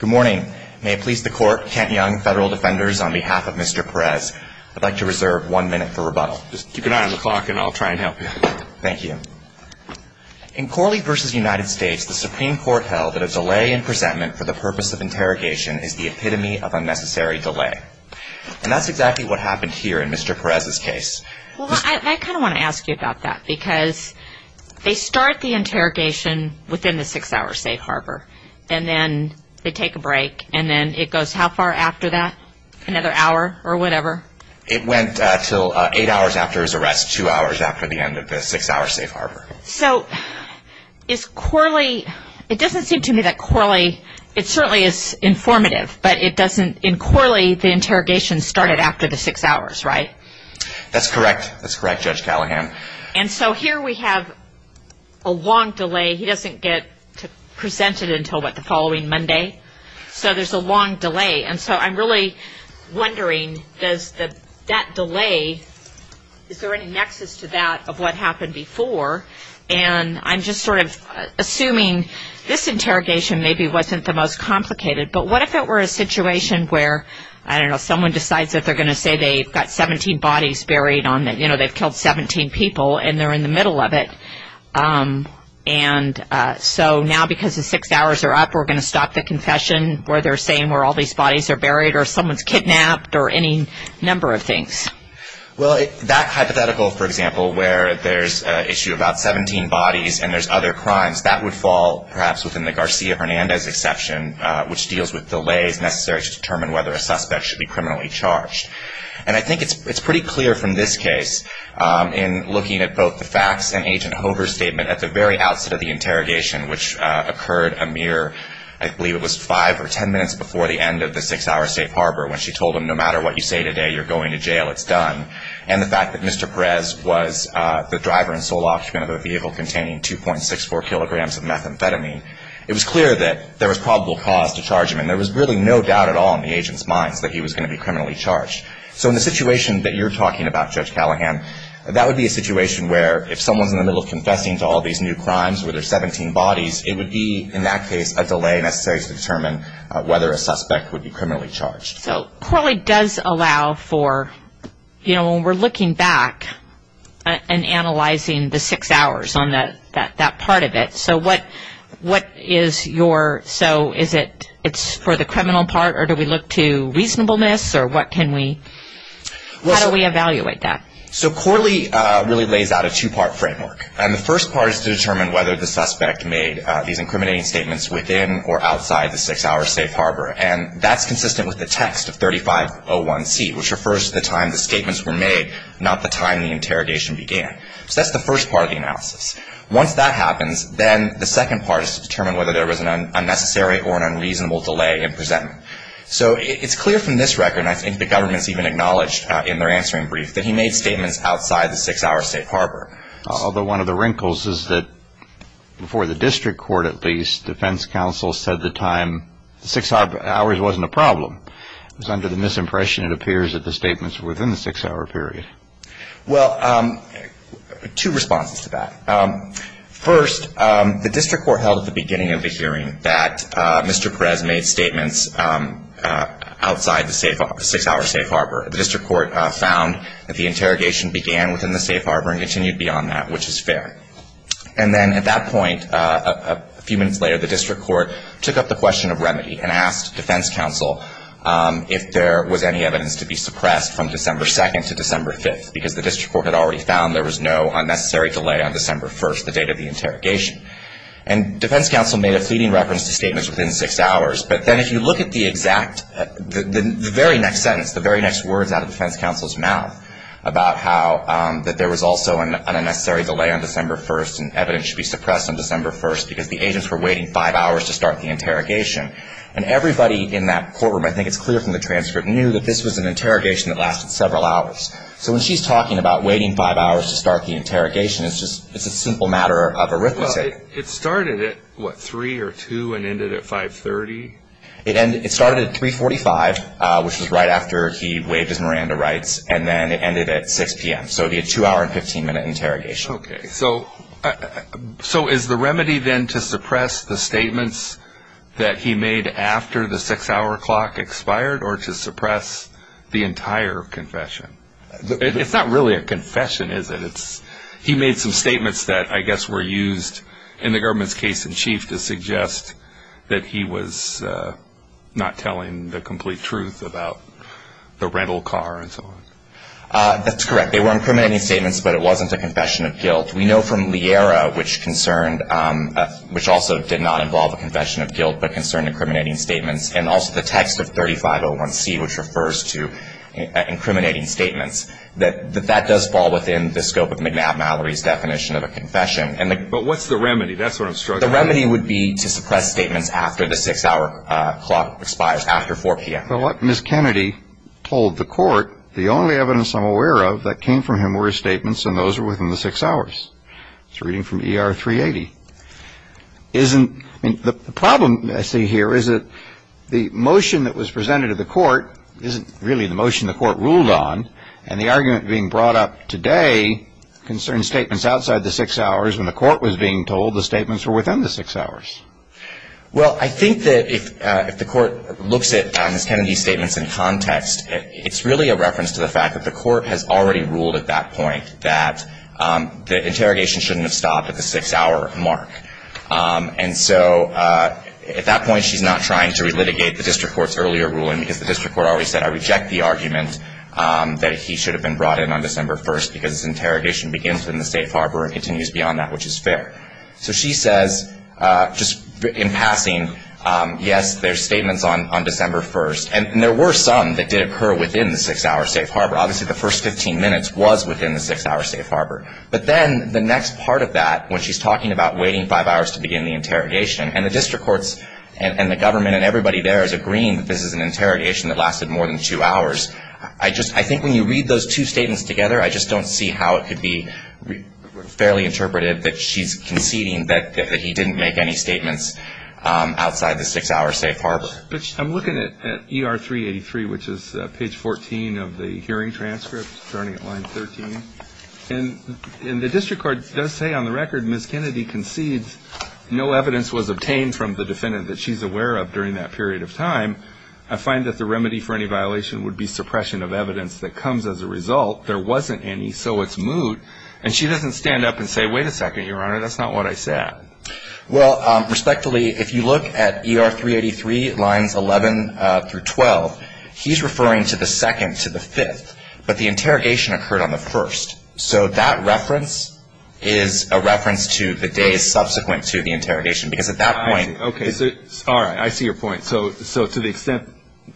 Good morning. May it please the court, Kent Young, Federal Defenders, on behalf of Mr. Perez, I'd like to reserve one minute for rebuttal. Just keep an eye on the clock and I'll try and help you. Thank you. In Corley v. United States, the Supreme Court held that a delay in presentment for the purpose of interrogation is the epitome of unnecessary delay. And that's exactly what happened here in Mr. Perez's case. Well, I kind of want to ask you about that. Because they start the interrogation within the six-hour safe harbor. And then they take a break. And then it goes how far after that? Another hour or whatever? It went until eight hours after his arrest, two hours after the end of the six-hour safe harbor. So is Corley – it doesn't seem to me that Corley – it certainly is informative. But it doesn't – in Corley, the interrogation started after the six hours, right? That's correct. That's correct, Judge Callahan. And so here we have a long delay. He doesn't get presented until, what, the following Monday? So there's a long delay. And so I'm really wondering, does that delay – is there any nexus to that of what happened before? And I'm just sort of assuming this interrogation maybe wasn't the most complicated. But what if it were a situation where, I don't know, someone decides that they're going to say they've got 17 bodies buried on the – you know, they've killed 17 people and they're in the middle of it. And so now because the six hours are up, we're going to stop the confession where they're saying where all these bodies are buried or someone's kidnapped or any number of things? Well, that hypothetical, for example, where there's an issue about 17 bodies and there's other crimes, that would fall perhaps within the Garcia-Hernandez exception, which deals with delays necessary to determine whether a suspect should be criminally charged. And I think it's pretty clear from this case in looking at both the facts and Agent Hoover's statement at the very outset of the interrogation, which occurred a mere – I believe it was five or ten minutes before the end of the six-hour safe harbor when she told him, no matter what you say today, you're going to jail. It's done. And the fact that Mr. Perez was the driver and sole occupant of a vehicle containing 2.64 kilograms of methamphetamine, it was clear that there was probable cause to charge him. And there was really no doubt at all in the agent's mind that he was going to be criminally charged. So in the situation that you're talking about, Judge Callahan, that would be a situation where if someone's in the middle of confessing to all these new crimes where there's 17 bodies, it would be, in that case, a delay necessary to determine whether a suspect would be criminally charged. So Corley does allow for – when we're looking back and analyzing the six hours on that part of it, so what is your – so is it for the criminal part or do we look to reasonableness or what can we – how do we evaluate that? So Corley really lays out a two-part framework. And the first part is to determine whether the suspect made these incriminating statements within or outside the six-hour safe harbor. And that's consistent with the text of 3501C, which refers to the time the statements were made, not the time the interrogation began. So that's the first part of the analysis. Once that happens, then the second part is to determine whether there was an unnecessary or an unreasonable delay in presentment. So it's clear from this record, and I think the government's even acknowledged in their answering brief, that he made statements outside the six-hour safe harbor. Although one of the wrinkles is that before the district court, at least, the defense counsel said the time – the six hours wasn't a problem. It was under the misimpression, it appears, that the statements were within the six-hour period. Well, two responses to that. First, the district court held at the beginning of the hearing that Mr. Perez made statements outside the six-hour safe harbor. The district court found that the interrogation began within the safe harbor and continued beyond that, which is fair. And then at that point, a few minutes later, the district court took up the question of remedy and asked defense counsel if there was any evidence to be suppressed from December 2nd to December 5th, because the district court had already found there was no unnecessary delay on December 1st, the date of the interrogation. And defense counsel made a fleeting reference to statements within six hours. But then if you look at the exact – the very next sentence, the very next words out of defense counsel's mouth about how – that there was also an unnecessary delay on December 1st and evidence should be suppressed on December 1st because the agents were waiting five hours to start the interrogation. And everybody in that courtroom, I think it's clear from the transcript, knew that this was an interrogation that lasted several hours. So when she's talking about waiting five hours to start the interrogation, it's just – it's a simple matter of arithmetic. Well, it started at, what, 3 or 2 and ended at 530? It started at 345, which was right after he waved his Miranda rights, and then it ended at 6 p.m. So it'd be a two-hour and 15-minute interrogation. Okay. So is the remedy then to suppress the statements that he made after the six-hour clock expired or to suppress the entire confession? It's not really a confession, is it? It's – he made some statements that I guess were used in the government's case in chief to suggest that he was not telling the complete truth about the rental car and so on. That's correct. They were incriminating statements, but it wasn't a confession of guilt. We know from Liera, which concerned – which also did not involve a confession of guilt but concerned incriminating statements, and also the text of 3501C, which refers to incriminating statements, that that does fall within the scope of McNabb-Mallory's definition of a confession. But what's the remedy? That's what I'm struggling with. The remedy would be to suppress statements after the six-hour clock expires, after 4 p.m. But what Ms. Kennedy told the court, the only evidence I'm aware of that came from him were his statements, and those were within the six hours. It's a reading from ER 380. Isn't – I mean, the problem I see here is that the motion that was presented to the court isn't really the motion the court ruled on, and the argument being brought up today concerns statements outside the six hours when the court was being told the statements were within the six hours. Well, I think that if the court looks at Ms. Kennedy's statements in context, it's really a reference to the fact that the court has already ruled at that point that the interrogation shouldn't have stopped at the six-hour mark. And so at that point she's not trying to relitigate the district court's earlier ruling because the district court already said, I reject the argument that he should have been brought in on December 1st because interrogation begins in the safe harbor and continues beyond that, which is fair. So she says, just in passing, yes, there's statements on December 1st. And there were some that did occur within the six-hour safe harbor. Obviously, the first 15 minutes was within the six-hour safe harbor. But then the next part of that, when she's talking about waiting five hours to begin the interrogation, and the district courts and the government and everybody there is agreeing that this is an interrogation that lasted more than two hours, I think when you read those two statements together, I just don't see how it could be fairly interpretive that she's conceding that he didn't make any statements outside the six-hour safe harbor. I'm looking at ER 383, which is page 14 of the hearing transcript, starting at line 13. And the district court does say on the record, Ms. Kennedy concedes no evidence was obtained from the defendant that she's aware of during that period of time. I find that the remedy for any violation would be suppression of evidence that comes as a result. There wasn't any, so it's moot. And she doesn't stand up and say, wait a second, Your Honor, that's not what I said. Well, respectfully, if you look at ER 383, lines 11 through 12, he's referring to the second to the fifth. But the interrogation occurred on the first. So that reference is a reference to the days subsequent to the interrogation, because at that point ‑‑ All right, I see your point. So to the extent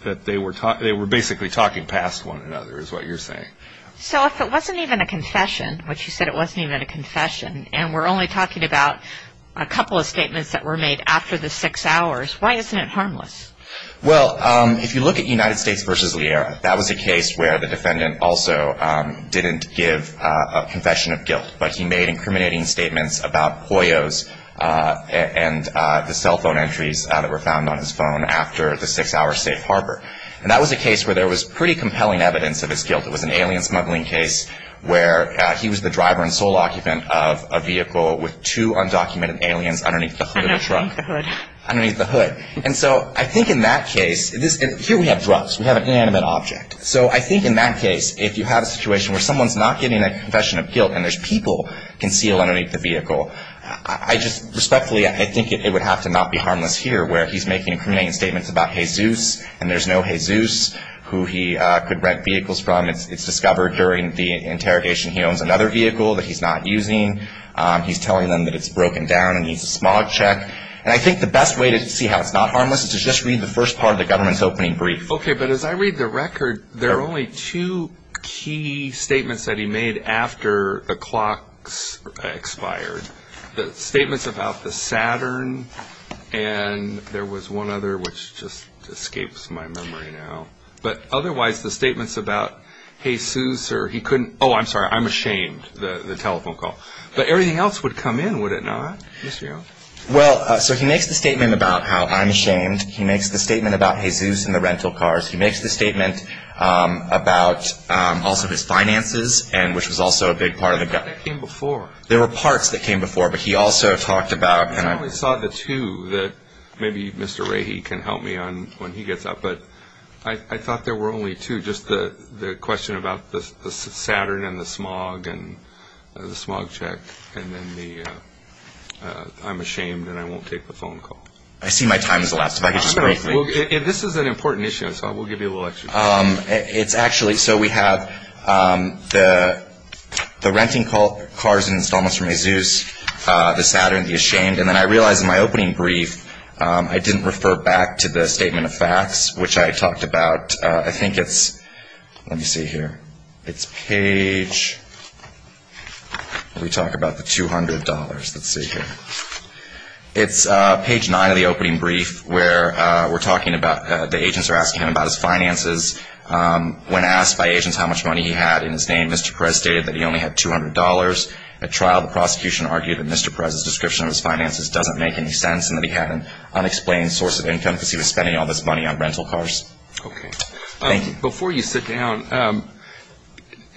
that they were basically talking past one another is what you're saying. So if it wasn't even a confession, which you said it wasn't even a confession, and we're only talking about a couple of statements that were made after the six hours, why isn't it harmless? Well, if you look at United States v. Liera, that was a case where the defendant also didn't give a confession of guilt, but he made incriminating statements about Poyos and the cell phone entries that were found on his phone after the six-hour safe harbor. And that was a case where there was pretty compelling evidence of his guilt. It was an alien smuggling case where he was the driver and sole occupant of a vehicle with two undocumented aliens underneath the hood. Underneath the hood. Underneath the hood. And so I think in that case, here we have drugs. We have an inanimate object. So I think in that case, if you have a situation where someone's not getting a confession of guilt and there's people concealed underneath the vehicle, I just respectfully, I think it would have to not be harmless here where he's making incriminating statements about Jesus and there's no Jesus who he could rent vehicles from. It's discovered during the interrogation he owns another vehicle that he's not using. He's telling them that it's broken down and needs a smog check. And I think the best way to see how it's not harmless is to just read the first part of the government's opening brief. Okay, but as I read the record, there are only two key statements that he made after the clocks expired. The statements about the Saturn and there was one other which just escapes my memory now. But otherwise, the statements about Jesus or he couldn't, oh, I'm sorry, I'm ashamed, the telephone call. But everything else would come in, would it not? Well, so he makes the statement about how I'm ashamed. He makes the statement about Jesus and the rental cars. He makes the statement about also his finances, which was also a big part of the gut. That came before. There were parts that came before, but he also talked about. I only saw the two that maybe Mr. Rahy can help me on when he gets up. But I thought there were only two, just the question about the Saturn and the smog and the smog check. And then the I'm ashamed and I won't take the phone call. I see my time has elapsed. If I could just briefly. This is an important issue, so we'll give you a little extra time. It's actually, so we have the renting cars and installments from Jesus, the Saturn, the ashamed. And then I realized in my opening brief I didn't refer back to the statement of facts, which I talked about. I think it's, let me see here. It's page, let me talk about the $200. Let's see here. It's page nine of the opening brief where we're talking about the agents are asking him about his finances. When asked by agents how much money he had in his name, Mr. Perez stated that he only had $200. At trial, the prosecution argued that Mr. Perez's description of his finances doesn't make any sense and that he had an unexplained source of income because he was spending all this money on rental cars. Okay. Thank you. Before you sit down,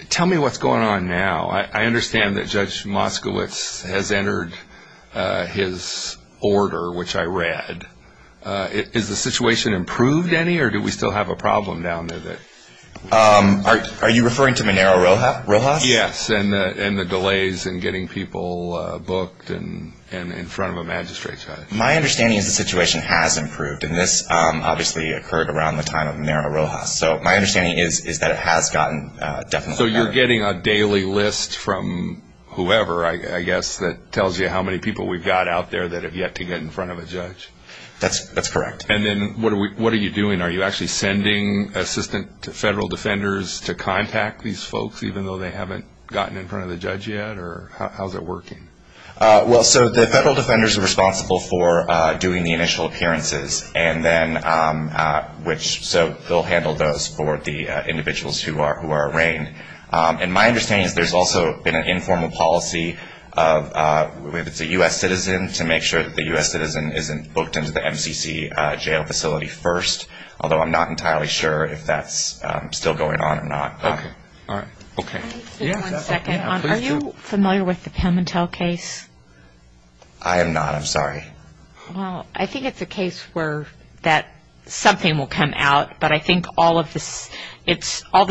tell me what's going on now. I understand that Judge Moskowitz has entered his order, which I read. Is the situation improved any, or do we still have a problem down there? Are you referring to Monero Rojas? Yes, and the delays in getting people booked and in front of a magistrate judge. My understanding is the situation has improved, and this obviously occurred around the time of Monero Rojas. So my understanding is that it has gotten definitely better. So you're getting a daily list from whoever, I guess, that tells you how many people we've got out there that have yet to get in front of a judge? That's correct. And then what are you doing? Are you actually sending assistant federal defenders to contact these folks, even though they haven't gotten in front of the judge yet, or how is it working? Well, so the federal defenders are responsible for doing the initial appearances, so they'll handle those for the individuals who are arraigned. And my understanding is there's also been an informal policy of, if it's a U.S. citizen, to make sure that the U.S. citizen isn't booked into the MCC jail facility first, although I'm not entirely sure if that's still going on or not. Okay. All right. Okay. One second. Are you familiar with the Pimentel case? I am not. I'm sorry. Well, I think it's a case where something will come out, but I think all the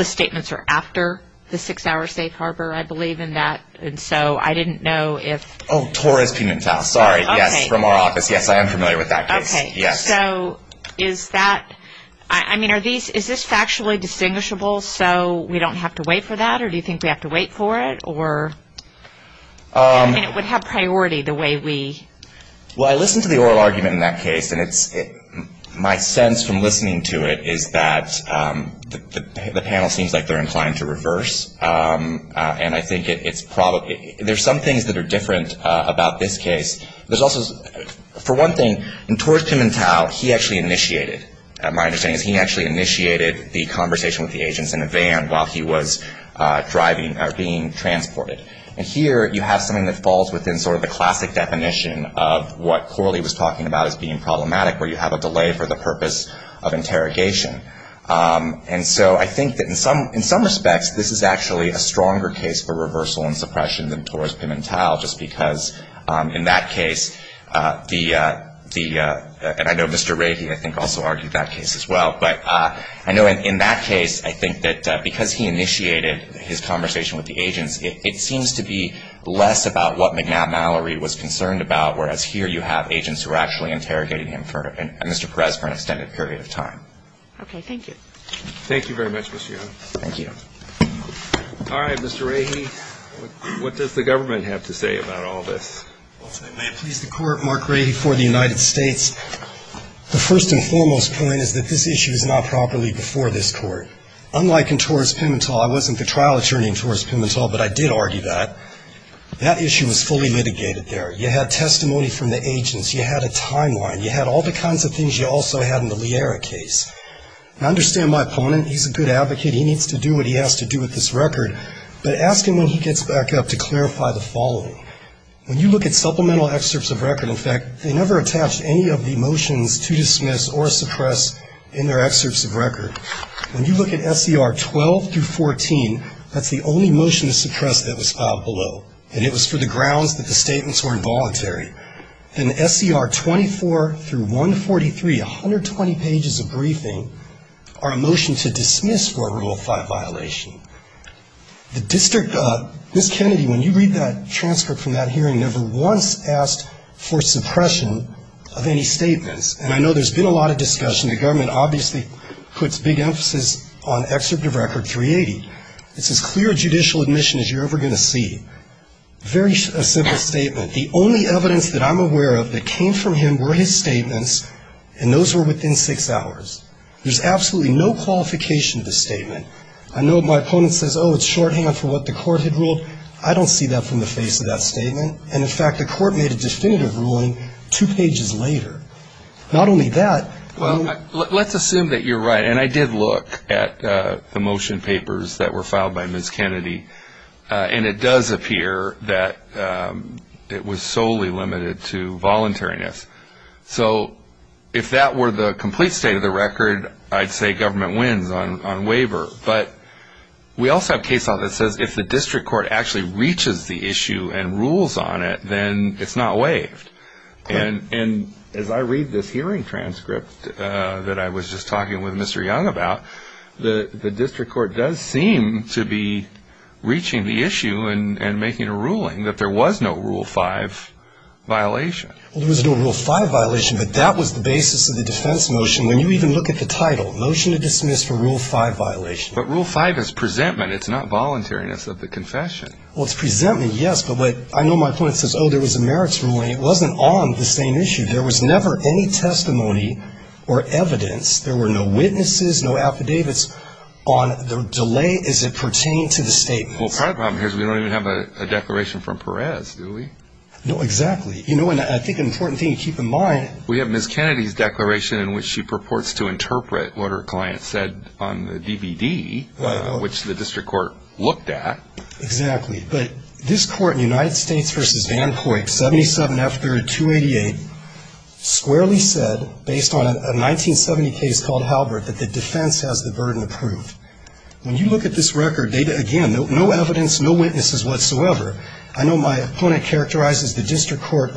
statements are after the six-hour safe harbor, I believe, in that, and so I didn't know if – Oh, Torres Pimentel. Sorry. Yes, from our office. Yes, I am familiar with that case. Okay. So is that – I mean, is this factually distinguishable so we don't have to wait for that, or do you think we have to wait for it, or – I mean, it would have priority the way we – Well, I listened to the oral argument in that case, and it's – my sense from listening to it is that the panel seems like they're inclined to reverse, and I think it's probably – there's some things that are different about this case. There's also – for one thing, in Torres Pimentel, he actually initiated – my understanding is he actually initiated the conversation with the agents in the van while he was driving or being transported. And here, you have something that falls within sort of the classic definition of what Corley was talking about as being problematic, where you have a delay for the purpose of interrogation. And so I think that in some respects, this is actually a stronger case for reversal and suppression than Torres Pimentel, just because in that case, the – and I know Mr. Ray, I think, also argued that case as well, but I know in that case, I think that because he initiated his conversation with the agents, it seems to be less about what McNabb Mallory was concerned about, whereas here you have agents who are actually interrogating him for – and Mr. Perez for an extended period of time. Okay. Thank you. Thank you very much, Mr. Young. Thank you. All right. Mr. Rahe, what does the government have to say about all this? May it please the Court, Mark Rahe for the United States. The first and foremost point is that this issue is not properly before this Court. Unlike in Torres Pimentel – I wasn't the trial attorney in Torres Pimentel, but I did argue that – that issue was fully litigated there. You had testimony from the agents. You had a timeline. You had all the kinds of things you also had in the Liera case. I understand my opponent. He's a good advocate. He needs to do what he has to do with this record. But ask him when he gets back up to clarify the following. When you look at supplemental excerpts of record, in fact, they never attach any of the motions to dismiss or suppress in their excerpts of record. When you look at SCR 12 through 14, that's the only motion to suppress that was filed below, and it was for the grounds that the statements were involuntary. In SCR 24 through 143, 120 pages of briefing are a motion to dismiss for a rule of five violation. The district – Ms. Kennedy, when you read that transcript from that hearing, never once asked for suppression of any statements. And I know there's been a lot of discussion. The government obviously puts big emphasis on excerpt of record 380. It's as clear a judicial admission as you're ever going to see. Very simple statement. The only evidence that I'm aware of that came from him were his statements, and those were within six hours. There's absolutely no qualification to the statement. I know my opponent says, oh, it's shorthand for what the court had ruled. I don't see that from the face of that statement. And, in fact, the court made a definitive ruling two pages later. Not only that. Well, let's assume that you're right, and I did look at the motion papers that were filed by Ms. Kennedy, and it does appear that it was solely limited to voluntariness. So if that were the complete state of the record, I'd say government wins on waiver. But we also have case law that says if the district court actually reaches the issue and rules on it, then it's not waived. And as I read this hearing transcript that I was just talking with Mr. Young about, the district court does seem to be reaching the issue and making a ruling that there was no Rule 5 violation. Well, there was no Rule 5 violation, but that was the basis of the defense motion. When you even look at the title, motion to dismiss for Rule 5 violation. But Rule 5 is presentment. It's not voluntariness of the confession. Well, it's presentment, yes, but I know my opponent says, oh, there was a merits ruling. It wasn't on the same issue. There was never any testimony or evidence. There were no witnesses, no affidavits on the delay as it pertained to the statement. Well, part of the problem here is we don't even have a declaration from Perez, do we? No, exactly. You know, and I think an important thing to keep in mind. We have Ms. Kennedy's declaration in which she purports to interpret what her client said on the DVD, which the district court looked at. Exactly. But this Court in United States v. Van Coyke, 77 F. 3rd, 288, squarely said, based on a 1970 case called Halbert, that the defense has the burden to prove. When you look at this record, again, no evidence, no witnesses whatsoever. I know my opponent characterizes the district court.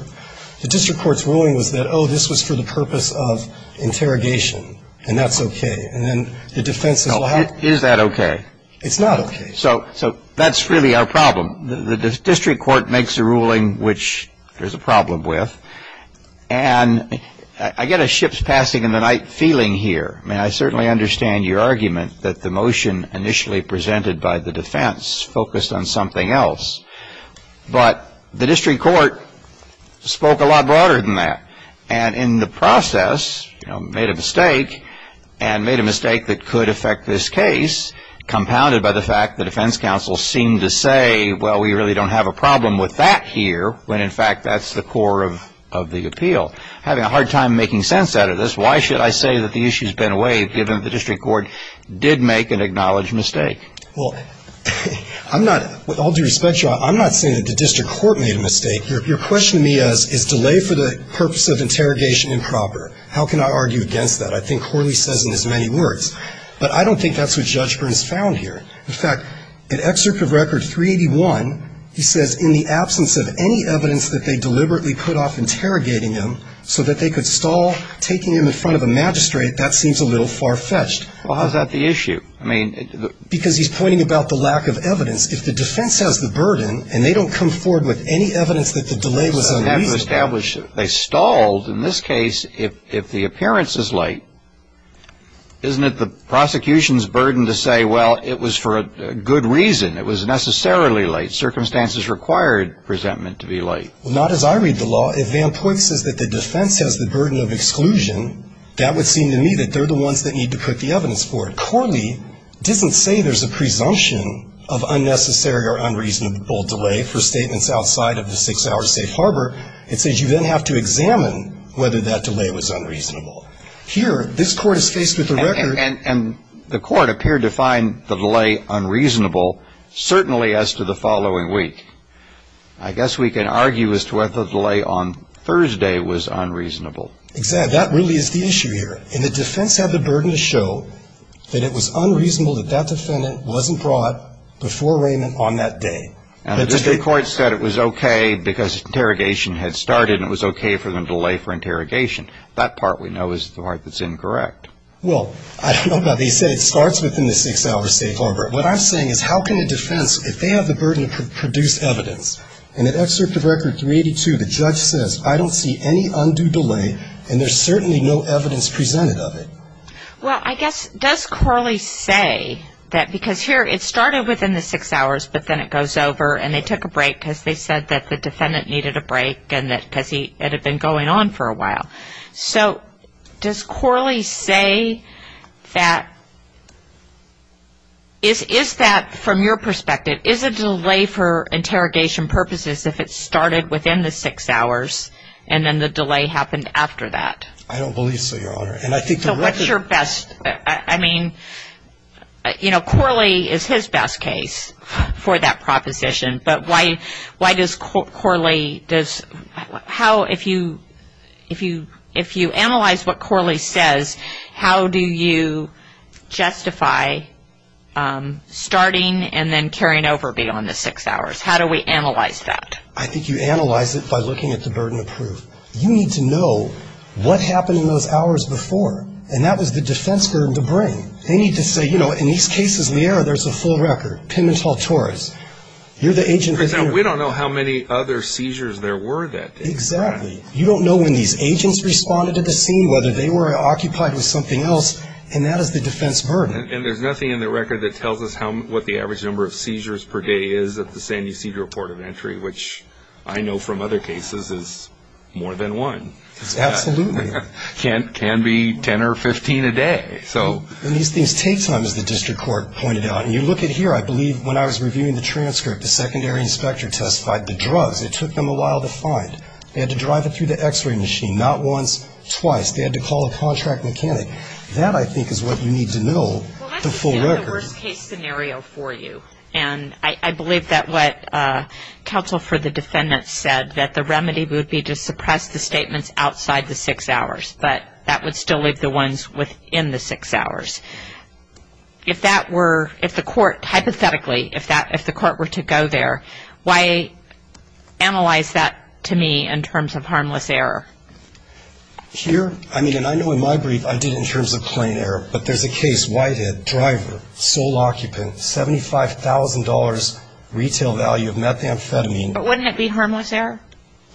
The district court's ruling was that, oh, this was for the purpose of interrogation, and that's okay. And then the defense says, well, how? Is that okay? It's not okay. So that's really our problem. The district court makes a ruling which there's a problem with. And I get a ship's passing in the night feeling here. I mean, I certainly understand your argument that the motion initially presented by the defense focused on something else. But the district court spoke a lot broader than that, and in the process, you know, made a mistake and made a mistake that could affect this case, compounded by the fact the defense counsel seemed to say, well, we really don't have a problem with that here, when, in fact, that's the core of the appeal. Having a hard time making sense out of this, why should I say that the issue's been waived given that the district court did make an acknowledged mistake? Well, I'm not, with all due respect to you, I'm not saying that the district court made a mistake. Your question to me is, is delay for the purpose of interrogation improper? How can I argue against that? I think Horley says in his many words. But I don't think that's what Judge Burns found here. In fact, in Excerpt of Record 381, he says, in the absence of any evidence that they deliberately put off interrogating him so that they could stall, taking him in front of a magistrate, that seems a little far-fetched. Well, how's that the issue? Because he's pointing about the lack of evidence. If the defense has the burden and they don't come forward with any evidence that the delay was unreasonable. They stalled. In this case, if the appearance is late, isn't it the prosecution's burden to say, well, it was for a good reason, it was necessarily late. Circumstances required presentment to be late. Well, not as I read the law. If Van Poyth says that the defense has the burden of exclusion, that would seem to me that they're the ones that need to put the evidence forward. Horley doesn't say there's a presumption of unnecessary or unreasonable delay for statements outside of the six-hour safe harbor. It says you then have to examine whether that delay was unreasonable. Here, this Court is faced with the record. And the Court appeared to find the delay unreasonable, certainly as to the following week. I guess we can argue as to whether the delay on Thursday was unreasonable. Exactly. That really is the issue here. And the defense had the burden to show that it was unreasonable that that defendant wasn't brought before arraignment on that day. And the district court said it was okay because interrogation had started and it was okay for them to delay for interrogation. That part we know is the part that's incorrect. Well, I don't know about that. He said it starts within the six-hour safe harbor. What I'm saying is how can a defense, if they have the burden to produce evidence, and in Excerpt of Record 382 the judge says, I don't see any undue delay and there's certainly no evidence presented of it. Well, I guess, does Corley say that because here it started within the six hours, but then it goes over and they took a break because they said that the defendant needed a break and that because it had been going on for a while. So does Corley say that is that, from your perspective, is a delay for interrogation purposes if it started within the six hours and then the delay happened after that? I don't believe so, Your Honor. So what's your best, I mean, you know, Corley is his best case for that proposition, but why does Corley, how, if you analyze what Corley says, how do you justify starting and then carrying over beyond the six hours? How do we analyze that? I think you analyze it by looking at the burden of proof. You need to know what happened in those hours before and that was the defense burden to bring. They need to say, you know, in these cases, there's a full record, Pimentel-Torres, you're the agent. We don't know how many other seizures there were that day. Exactly. You don't know when these agents responded to the scene, whether they were occupied with something else, and that is the defense burden. And there's nothing in the record that tells us what the average number of seizures per day is at the San Ysidro Port of Entry, which I know from other cases is more than one. Absolutely. It can be 10 or 15 a day. And these things take time, as the district court pointed out. And you look at here, I believe when I was reviewing the transcript, the secondary inspector testified, the drugs, it took them a while to find. They had to drive it through the x-ray machine, not once, twice. They had to call a contract mechanic. That, I think, is what you need to know, the full record. This is a worst-case scenario for you, and I believe that what counsel for the defendant said, that the remedy would be to suppress the statements outside the six hours, but that would still leave the ones within the six hours. If that were, if the court, hypothetically, if the court were to go there, why analyze that to me in terms of harmless error? Here, I mean, and I know in my brief I did in terms of plain error, but there's a case, Whitehead, driver, sole occupant, $75,000 retail value of methamphetamine. But wouldn't it be harmless error?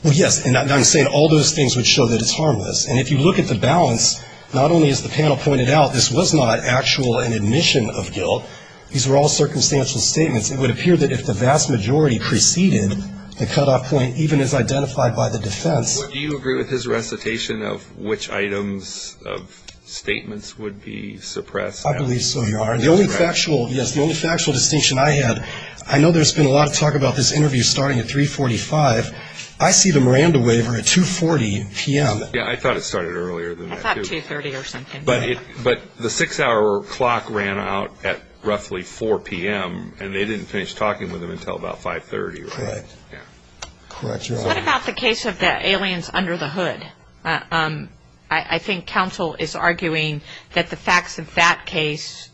Well, yes, and I'm saying all those things would show that it's harmless. And if you look at the balance, not only is the panel pointed out, this was not an actual admission of guilt. These were all circumstantial statements. It would appear that if the vast majority preceded the cutoff point, even as identified by the defense. Do you agree with his recitation of which items of statements would be suppressed? I believe so, Your Honor. The only factual, yes, the only factual distinction I had, I know there's been a lot of talk about this interview starting at 345. I see the Miranda waiver at 240 p.m. Yeah, I thought it started earlier than that, too. I thought 230 or something. But the six-hour clock ran out at roughly 4 p.m., and they didn't finish talking with him until about 530 or something. Correct. Correct, Your Honor. What about the case of the aliens under the hood? I think counsel is arguing that the facts of that case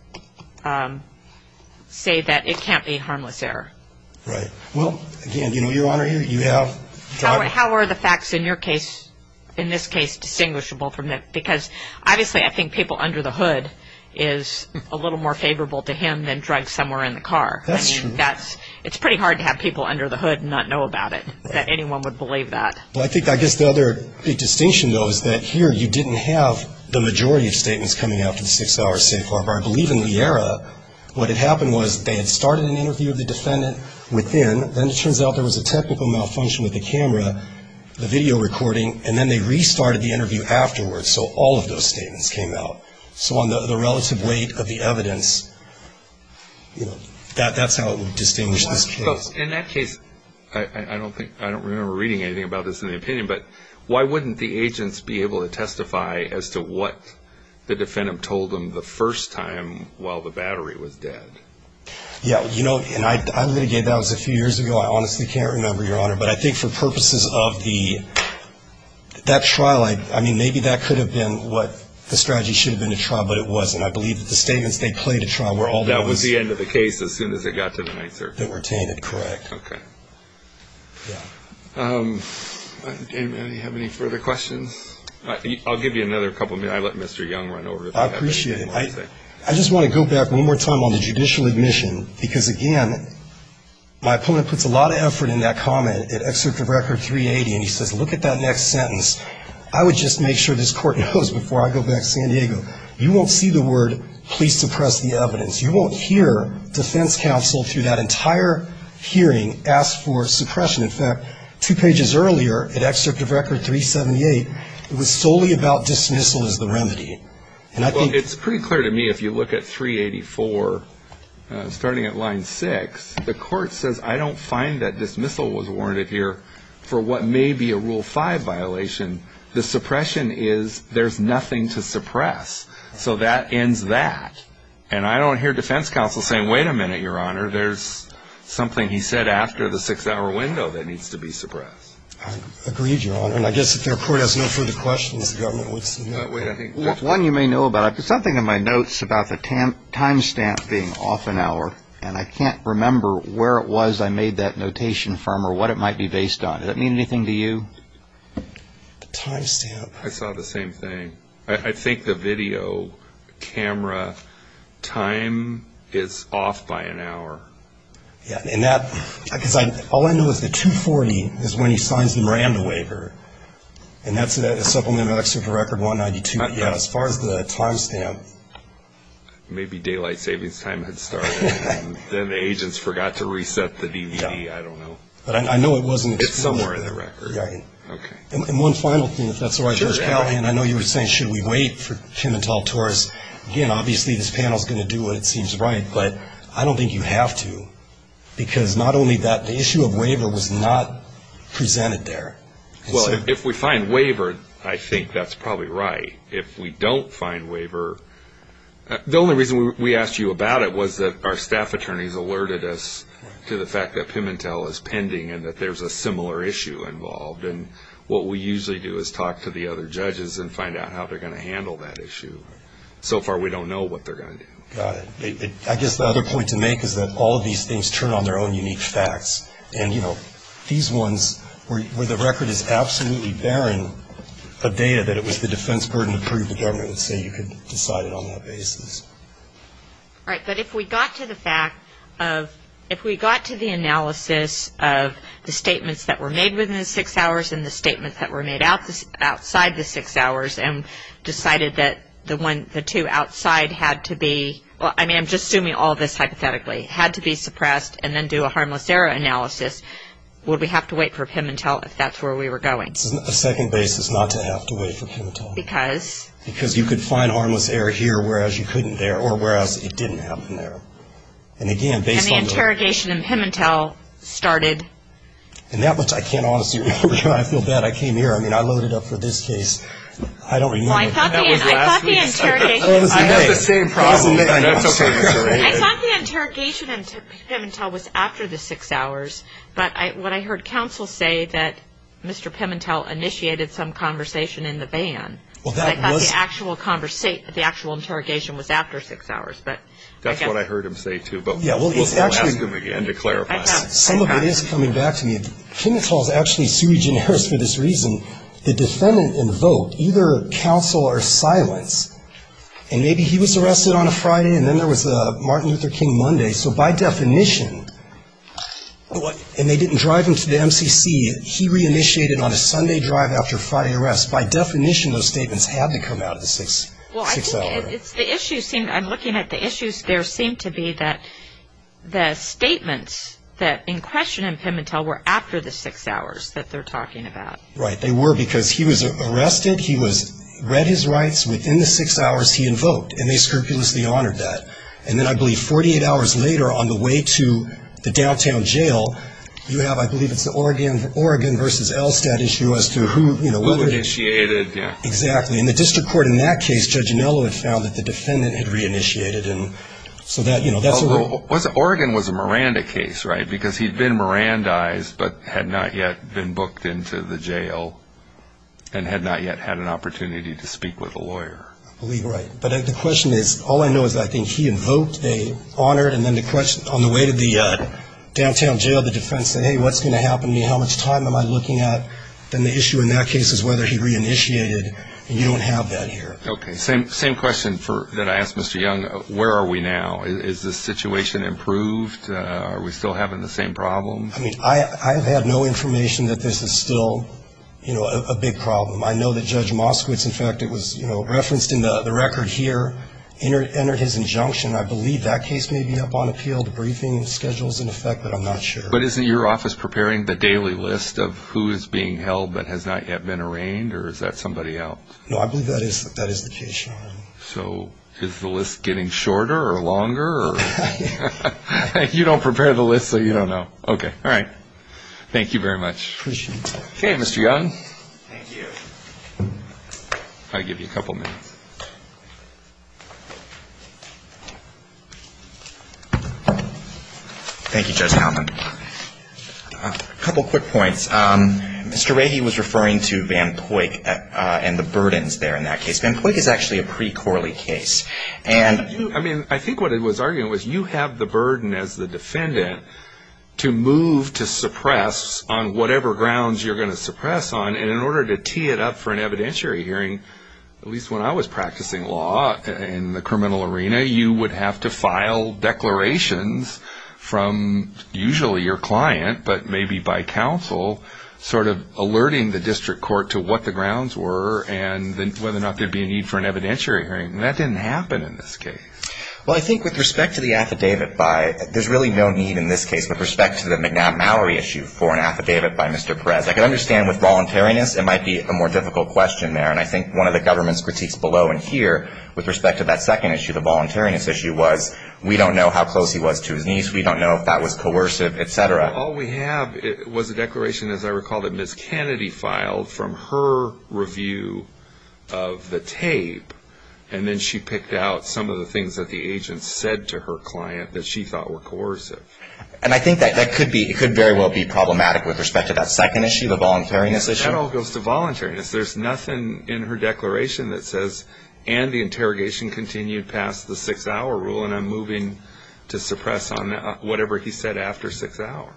say that it can't be a harmless error. Right. Well, again, you know, Your Honor, you have drugs. How are the facts in your case, in this case, distinguishable from that? Because, obviously, I think people under the hood is a little more favorable to him than drugs somewhere in the car. That's true. I think it's pretty hard to have people under the hood and not know about it, that anyone would believe that. I guess the other big distinction, though, is that here you didn't have the majority of statements coming after the six-hour safe hour. I believe in the era what had happened was they had started an interview of the defendant within, then it turns out there was a technical malfunction with the camera, the video recording, and then they restarted the interview afterwards, so all of those statements came out. So on the relative weight of the evidence, you know, that's how it would distinguish this case. In that case, I don't remember reading anything about this in the opinion, but why wouldn't the agents be able to testify as to what the defendant told them the first time while the battery was dead? Yeah, you know, and I litigated that. That was a few years ago. I honestly can't remember, Your Honor, but I think for purposes of that trial, I mean, maybe that could have been what the strategy should have been to trial, but it wasn't. I believe that the statements they played at trial were all those. That was the end of the case as soon as it got to the night circuit. That were tainted, correct. Okay. Yeah. Do we have any further questions? I'll give you another couple minutes. I'll let Mr. Young run over. I appreciate it. I just want to go back one more time on the judicial admission, because, again, my opponent puts a lot of effort in that comment, and he says, look at that next sentence. I would just make sure this Court knows before I go back to San Diego, you won't see the word, please suppress the evidence. You won't hear defense counsel through that entire hearing ask for suppression. In fact, two pages earlier, at Excerpt of Record 378, it was solely about dismissal as the remedy. And I think it's pretty clear to me if you look at 384, starting at line 6, the Court says, I don't find that dismissal was warranted here for what may be a Rule 5 violation. The suppression is there's nothing to suppress. So that ends that. And I don't hear defense counsel saying, wait a minute, Your Honor, there's something he said after the six-hour window that needs to be suppressed. Agreed, Your Honor. And I guess if the Court has no further questions, the government would see that way. One you may know about, I put something in my notes about the time stamp being off an hour, and I can't remember where it was I made that notation from or what it might be based on. Does that mean anything to you? The time stamp. I saw the same thing. I think the video camera time is off by an hour. Yeah, and that, because all I know is the 240 is when he signs the Miranda waiver, and that's supplemented by the Excerpt of Record 192. Yeah, as far as the time stamp. Maybe Daylight Savings Time had started, and then the agents forgot to reset the DVD. I don't know. But I know it wasn't. It's somewhere in the record. Okay. And one final thing, if that's all right, Judge Callahan, I know you were saying should we wait for Pimentel-Torres. Again, obviously this panel is going to do what it seems right, but I don't think you have to, because not only that, the issue of waiver was not presented there. Well, if we find waiver, I think that's probably right. If we don't find waiver, the only reason we asked you about it was that our staff attorneys alerted us to the fact that Pimentel is pending and that there's a similar issue involved, and what we usually do is talk to the other judges and find out how they're going to handle that issue. So far we don't know what they're going to do. Got it. I guess the other point to make is that all of these things turn on their own unique facts, and, you know, these ones where the record is absolutely barren, a day that it was the defense burden to prove the government would say you can decide it on that basis. All right. But if we got to the fact of, if we got to the analysis of the statements that were made within the six hours and the statements that were made outside the six hours and decided that the two outside had to be, well, I mean I'm just assuming all this hypothetically, had to be suppressed and then do a harmless error analysis, would we have to wait for Pimentel if that's where we were going? It's a second basis not to have to wait for Pimentel. Because? Because you could find harmless error here whereas you couldn't there, or whereas it didn't happen there. And again, based on the... And the interrogation in Pimentel started... And that was, I can't honestly remember. I feel bad. I came here. I mean, I loaded up for this case. I don't remember. Well, I thought the interrogation... I had the same problem. That's okay. I thought the interrogation in Pimentel was after the six hours. But what I heard counsel say that Mr. Pimentel initiated some conversation in the van. Well, that was... I thought the actual interrogation was after six hours. That's what I heard him say too. But we'll ask him again to clarify. Some of it is coming back to me. Pimentel is actually sui generis for this reason. The defendant invoked either counsel or silence. And maybe he was arrested on a Friday and then there was a Martin Luther King Monday. So by definition, and they didn't drive him to the MCC, he re-initiated on a Sunday drive after Friday arrest. By definition, those statements had to come out of the six-hour. Well, I think it's the issue. I'm looking at the issues. There seemed to be that the statements that in question in Pimentel were after the six hours that they're talking about. Right. They were because he was arrested. He was read his rights within the six hours he invoked. And they scrupulously honored that. And then I believe 48 hours later on the way to the downtown jail, you have I believe it's the Oregon v. Elstad issue as to who, you know, whether... Who initiated. Exactly. In the district court in that case, Judge Anello had found that the defendant had re-initiated. And so that, you know, that's... Oregon was a Miranda case, right, because he'd been Mirandized but had not yet been booked into the jail and had not yet had an opportunity to speak with a lawyer. I believe, right. But the question is, all I know is I think he invoked, they honored, and then on the way to the downtown jail the defense said, hey, what's going to happen to me? How much time am I looking at? Then the issue in that case is whether he re-initiated. And you don't have that here. Okay. Same question that I asked Mr. Young. Where are we now? Is the situation improved? Are we still having the same problems? I mean, I have had no information that this is still, you know, a big problem. I know that Judge Moskowitz, in fact, it was referenced in the record here, entered his injunction. I believe that case may be up on appeal. The briefing schedule is in effect, but I'm not sure. But isn't your office preparing the daily list of who is being held but has not yet been arraigned? Or is that somebody else? No, I believe that is the case, Sean. So is the list getting shorter or longer? You don't prepare the list so you don't know. Okay. All right. Thank you very much. Appreciate it. Okay, Mr. Young. Thank you. I'll give you a couple of minutes. Thank you, Judge Howman. A couple of quick points. Mr. Rahey was referring to Van Poyck and the burdens there in that case. Van Poyck is actually a pre-Corley case. I think what it was arguing was you have the burden as the defendant to move to suppress on whatever grounds you're going to suppress on. And in order to tee it up for an evidentiary hearing, at least when I was practicing law in the criminal arena, you would have to file declarations from usually your client, but maybe by counsel, sort of alerting the district court to what the grounds were and whether or not there would be a need for an evidentiary hearing. And that didn't happen in this case. Well, I think with respect to the affidavit, there's really no need in this case with respect to the McNabb-Mowry issue for an affidavit by Mr. Perez. I can understand with voluntariness it might be a more difficult question there. And I think one of the government's critiques below and here with respect to that second issue, the voluntariness issue, was we don't know how close he was to his niece. We don't know if that was coercive, et cetera. All we have was a declaration, as I recall, that Ms. Kennedy filed from her review of the tape. And then she picked out some of the things that the agent said to her client that she thought were coercive. And I think that could very well be problematic with respect to that second issue, the voluntariness issue. That all goes to voluntariness. There's nothing in her declaration that says, and the interrogation continued past the six-hour rule, and I'm moving to suppress on whatever he said after six hours.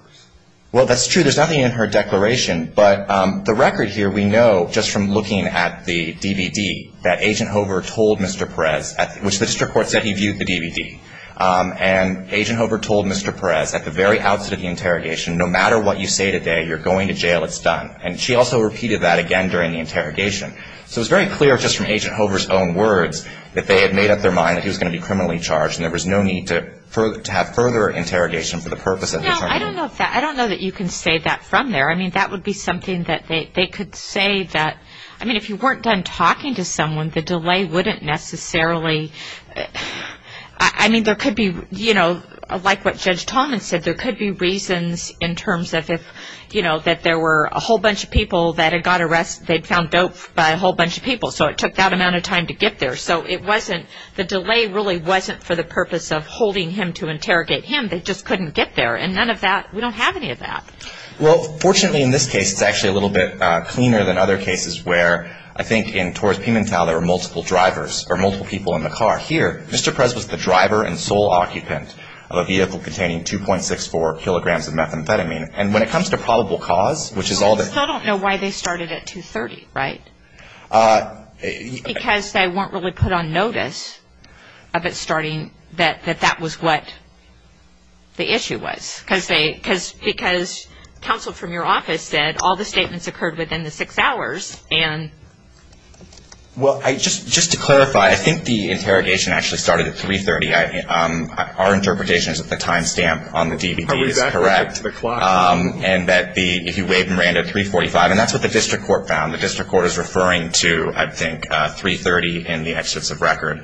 Well, that's true. There's nothing in her declaration. But the record here, we know just from looking at the DVD that Agent Hover told Mr. Perez, which the district court said he viewed the DVD, and Agent Hover told Mr. Perez at the very outset of the interrogation, no matter what you say today, you're going to jail, it's done. And she also repeated that again during the interrogation. So it's very clear just from Agent Hover's own words that they had made up their mind that he was going to be criminally charged and there was no need to have further interrogation for the purpose of determining. No, I don't know that you can say that from there. I mean, that would be something that they could say that, I mean, if you weren't done talking to someone, the delay wouldn't necessarily, I mean, there could be, you know, like what Judge Tallman said, there could be reasons in terms of if, you know, that there were a whole bunch of people that had got arrested, they'd found dope by a whole bunch of people, so it took that amount of time to get there. So it wasn't, the delay really wasn't for the purpose of holding him to interrogate him. They just couldn't get there. And none of that, we don't have any of that. Well, fortunately in this case, it's actually a little bit cleaner than other cases where, I think, in Torres Pimentel there were multiple drivers or multiple people in the car. Here, Mr. Prez was the driver and sole occupant of a vehicle containing 2.64 kilograms of methamphetamine. And when it comes to probable cause, which is all the Well, I still don't know why they started at 2.30, right? Because they weren't really put on notice of it starting, that that was what the issue was. Because counsel from your office said all the statements occurred within the six hours. Well, just to clarify, I think the interrogation actually started at 3.30. Our interpretation is that the time stamp on the DVD is correct. Are we back to the clock? And that if you wave Miranda at 3.45, and that's what the district court found. The district court is referring to, I think, 3.30 in the exits of record.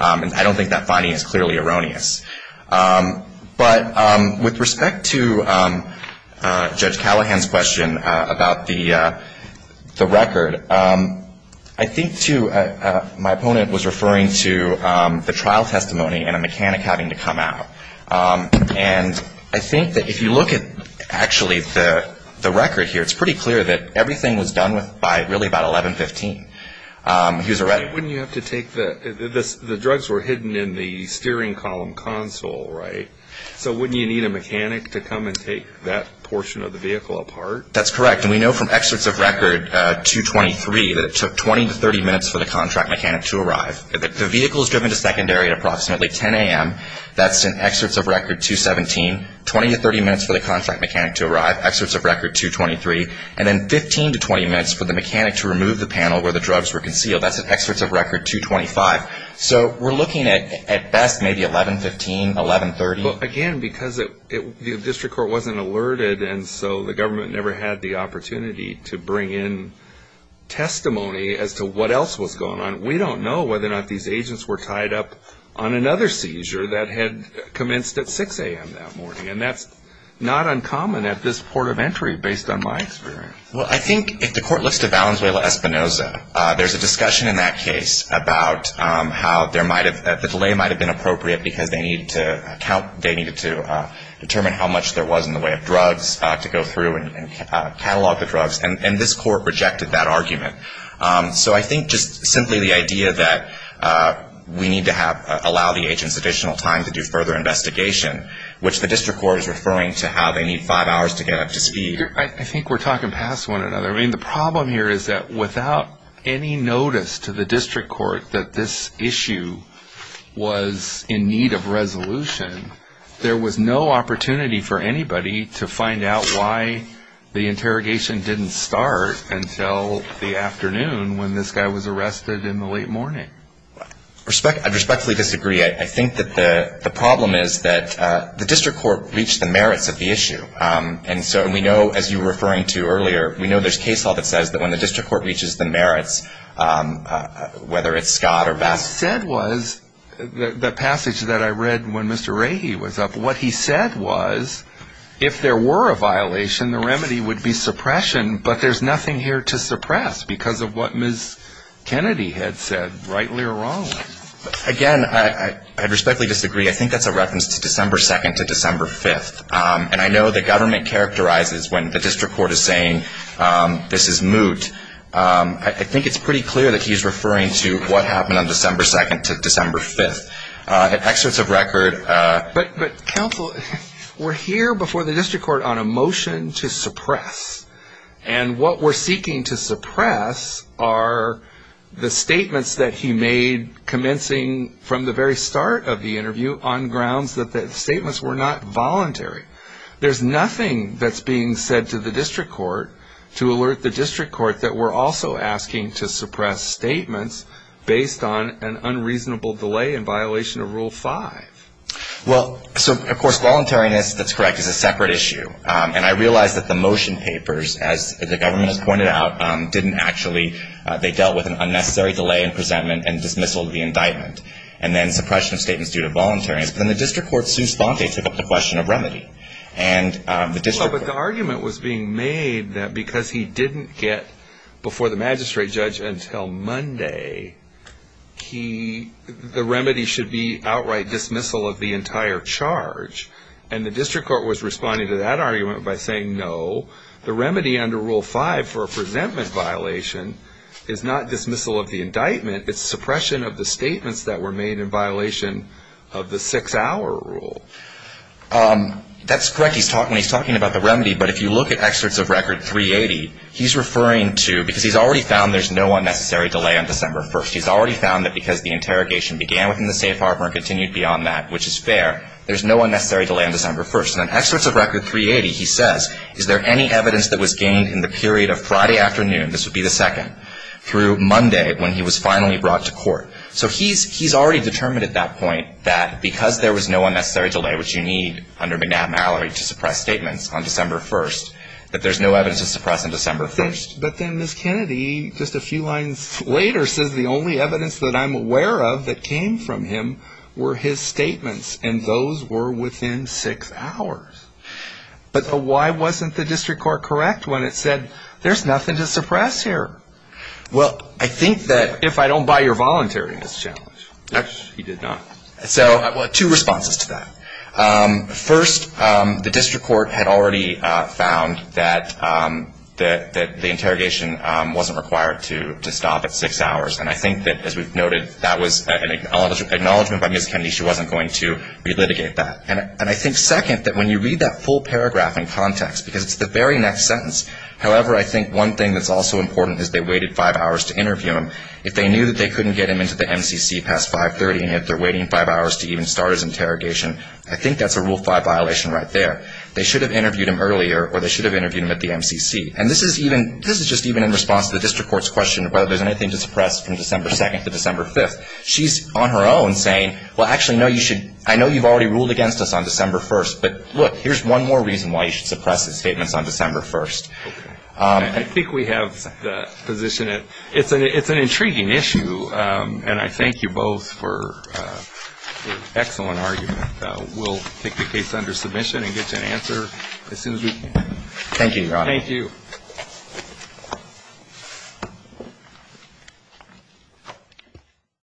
And I don't think that finding is clearly erroneous. But with respect to Judge Callahan's question about the record, I think, too, my opponent was referring to the trial testimony and a mechanic having to come out. And I think that if you look at, actually, the record here, it's pretty clear that everything was done by really about 11.15. Wouldn't you have to take the drugs were hidden in the steering column console, right? So wouldn't you need a mechanic to come and take that portion of the vehicle apart? That's correct. And we know from excerpts of record 223 that it took 20 to 30 minutes for the contract mechanic to arrive. The vehicle was driven to secondary at approximately 10 a.m. That's in excerpts of record 217, 20 to 30 minutes for the contract mechanic to arrive, excerpts of record 223, and then 15 to 20 minutes for the mechanic to remove the panel where the drugs were concealed. That's in excerpts of record 225. So we're looking at best maybe 11.15, 11.30. Again, because the district court wasn't alerted, and so the government never had the opportunity to bring in testimony as to what else was going on. We don't know whether or not these agents were tied up on another seizure that had commenced at 6 a.m. that morning. And that's not uncommon at this port of entry, based on my experience. Well, I think if the court looks to Valenzuela-Espinoza, there's a discussion in that case about how the delay might have been appropriate because they needed to determine how much there was in the way of drugs to go through and catalog the drugs. And this court rejected that argument. So I think just simply the idea that we need to allow the agents additional time to do further investigation, which the district court is referring to how they need five hours to get up to speed. I think we're talking past one another. I mean, the problem here is that without any notice to the district court that this issue was in need of resolution, there was no opportunity for anybody to find out why the interrogation didn't start until the afternoon when this guy was arrested in the late morning. I respectfully disagree. I think that the problem is that the district court reached the merits of the issue. And so we know, as you were referring to earlier, we know there's case law that says that when the district court reaches the merits, whether it's Scott or Vasquez. What he said was, the passage that I read when Mr. Rahe was up, what he said was if there were a violation, the remedy would be suppression, but there's nothing here to suppress because of what Ms. Kennedy had said, rightly or wrongly. Again, I respectfully disagree. I think that's a reference to December 2nd to December 5th. And I know the government characterizes when the district court is saying this is moot. I think it's pretty clear that he's referring to what happened on December 2nd to December 5th. Excerpts of record. But counsel, we're here before the district court on a motion to suppress. And what we're seeking to suppress are the statements that he made commencing from the very start of the interview on grounds that the statements were not voluntary. There's nothing that's being said to the district court to alert the district court that we're also asking to suppress statements based on an unreasonable delay in violation of Rule 5. Well, so, of course, voluntariness, that's correct, is a separate issue. And I realize that the motion papers, as the government has pointed out, didn't actually, they dealt with an unnecessary delay in presentment and dismissal of the indictment and then suppression of statements due to voluntariness. But then the district court, su sponte, took up the question of remedy. Well, but the argument was being made that because he didn't get before the magistrate judge until Monday, the remedy should be outright dismissal of the entire charge. And the district court was responding to that argument by saying, no, the remedy under Rule 5 for a presentment violation is not dismissal of the indictment. It's suppression of the statements that were made in violation of the six-hour rule. That's correct. He's talking about the remedy. But if you look at excerpts of Record 380, he's referring to, because he's already found there's no unnecessary delay on December 1st. He's already found that because the interrogation began within the safe harbor and continued beyond that, which is fair, there's no unnecessary delay on December 1st. And in excerpts of Record 380, he says, is there any evidence that was gained in the period of Friday afternoon, this would be the second, through Monday when he was finally brought to court. So he's already determined at that point that because there was no unnecessary delay, which you need under McNabb-Mallory to suppress statements on December 1st, that there's no evidence to suppress on December 1st. But then Ms. Kennedy, just a few lines later, she says the only evidence that I'm aware of that came from him were his statements, and those were within six hours. But why wasn't the district court correct when it said there's nothing to suppress here? Well, I think that if I don't buy your voluntariness challenge. He did not. So two responses to that. First, the district court had already found that the interrogation wasn't required to stop at six hours, and I think that, as we've noted, that was an acknowledgment by Ms. Kennedy. She wasn't going to relitigate that. And I think, second, that when you read that full paragraph in context, because it's the very next sentence, however, I think one thing that's also important is they waited five hours to interview him. If they knew that they couldn't get him into the MCC past 530, and yet they're waiting five hours to even start his interrogation, I think that's a Rule 5 violation right there. They should have interviewed him earlier, or they should have interviewed him at the MCC. And this is just even in response to the district court's question of whether there's anything to suppress from December 2nd to December 5th. She's on her own saying, well, actually, no, you should – I know you've already ruled against us on December 1st, but, look, here's one more reason why you should suppress his statements on December 1st. Okay. I think we have the position that it's an intriguing issue, and I thank you both for your excellent argument. We'll take the case under submission and get you an answer as soon as we can. Thank you, Your Honor. Thank you. Thank you.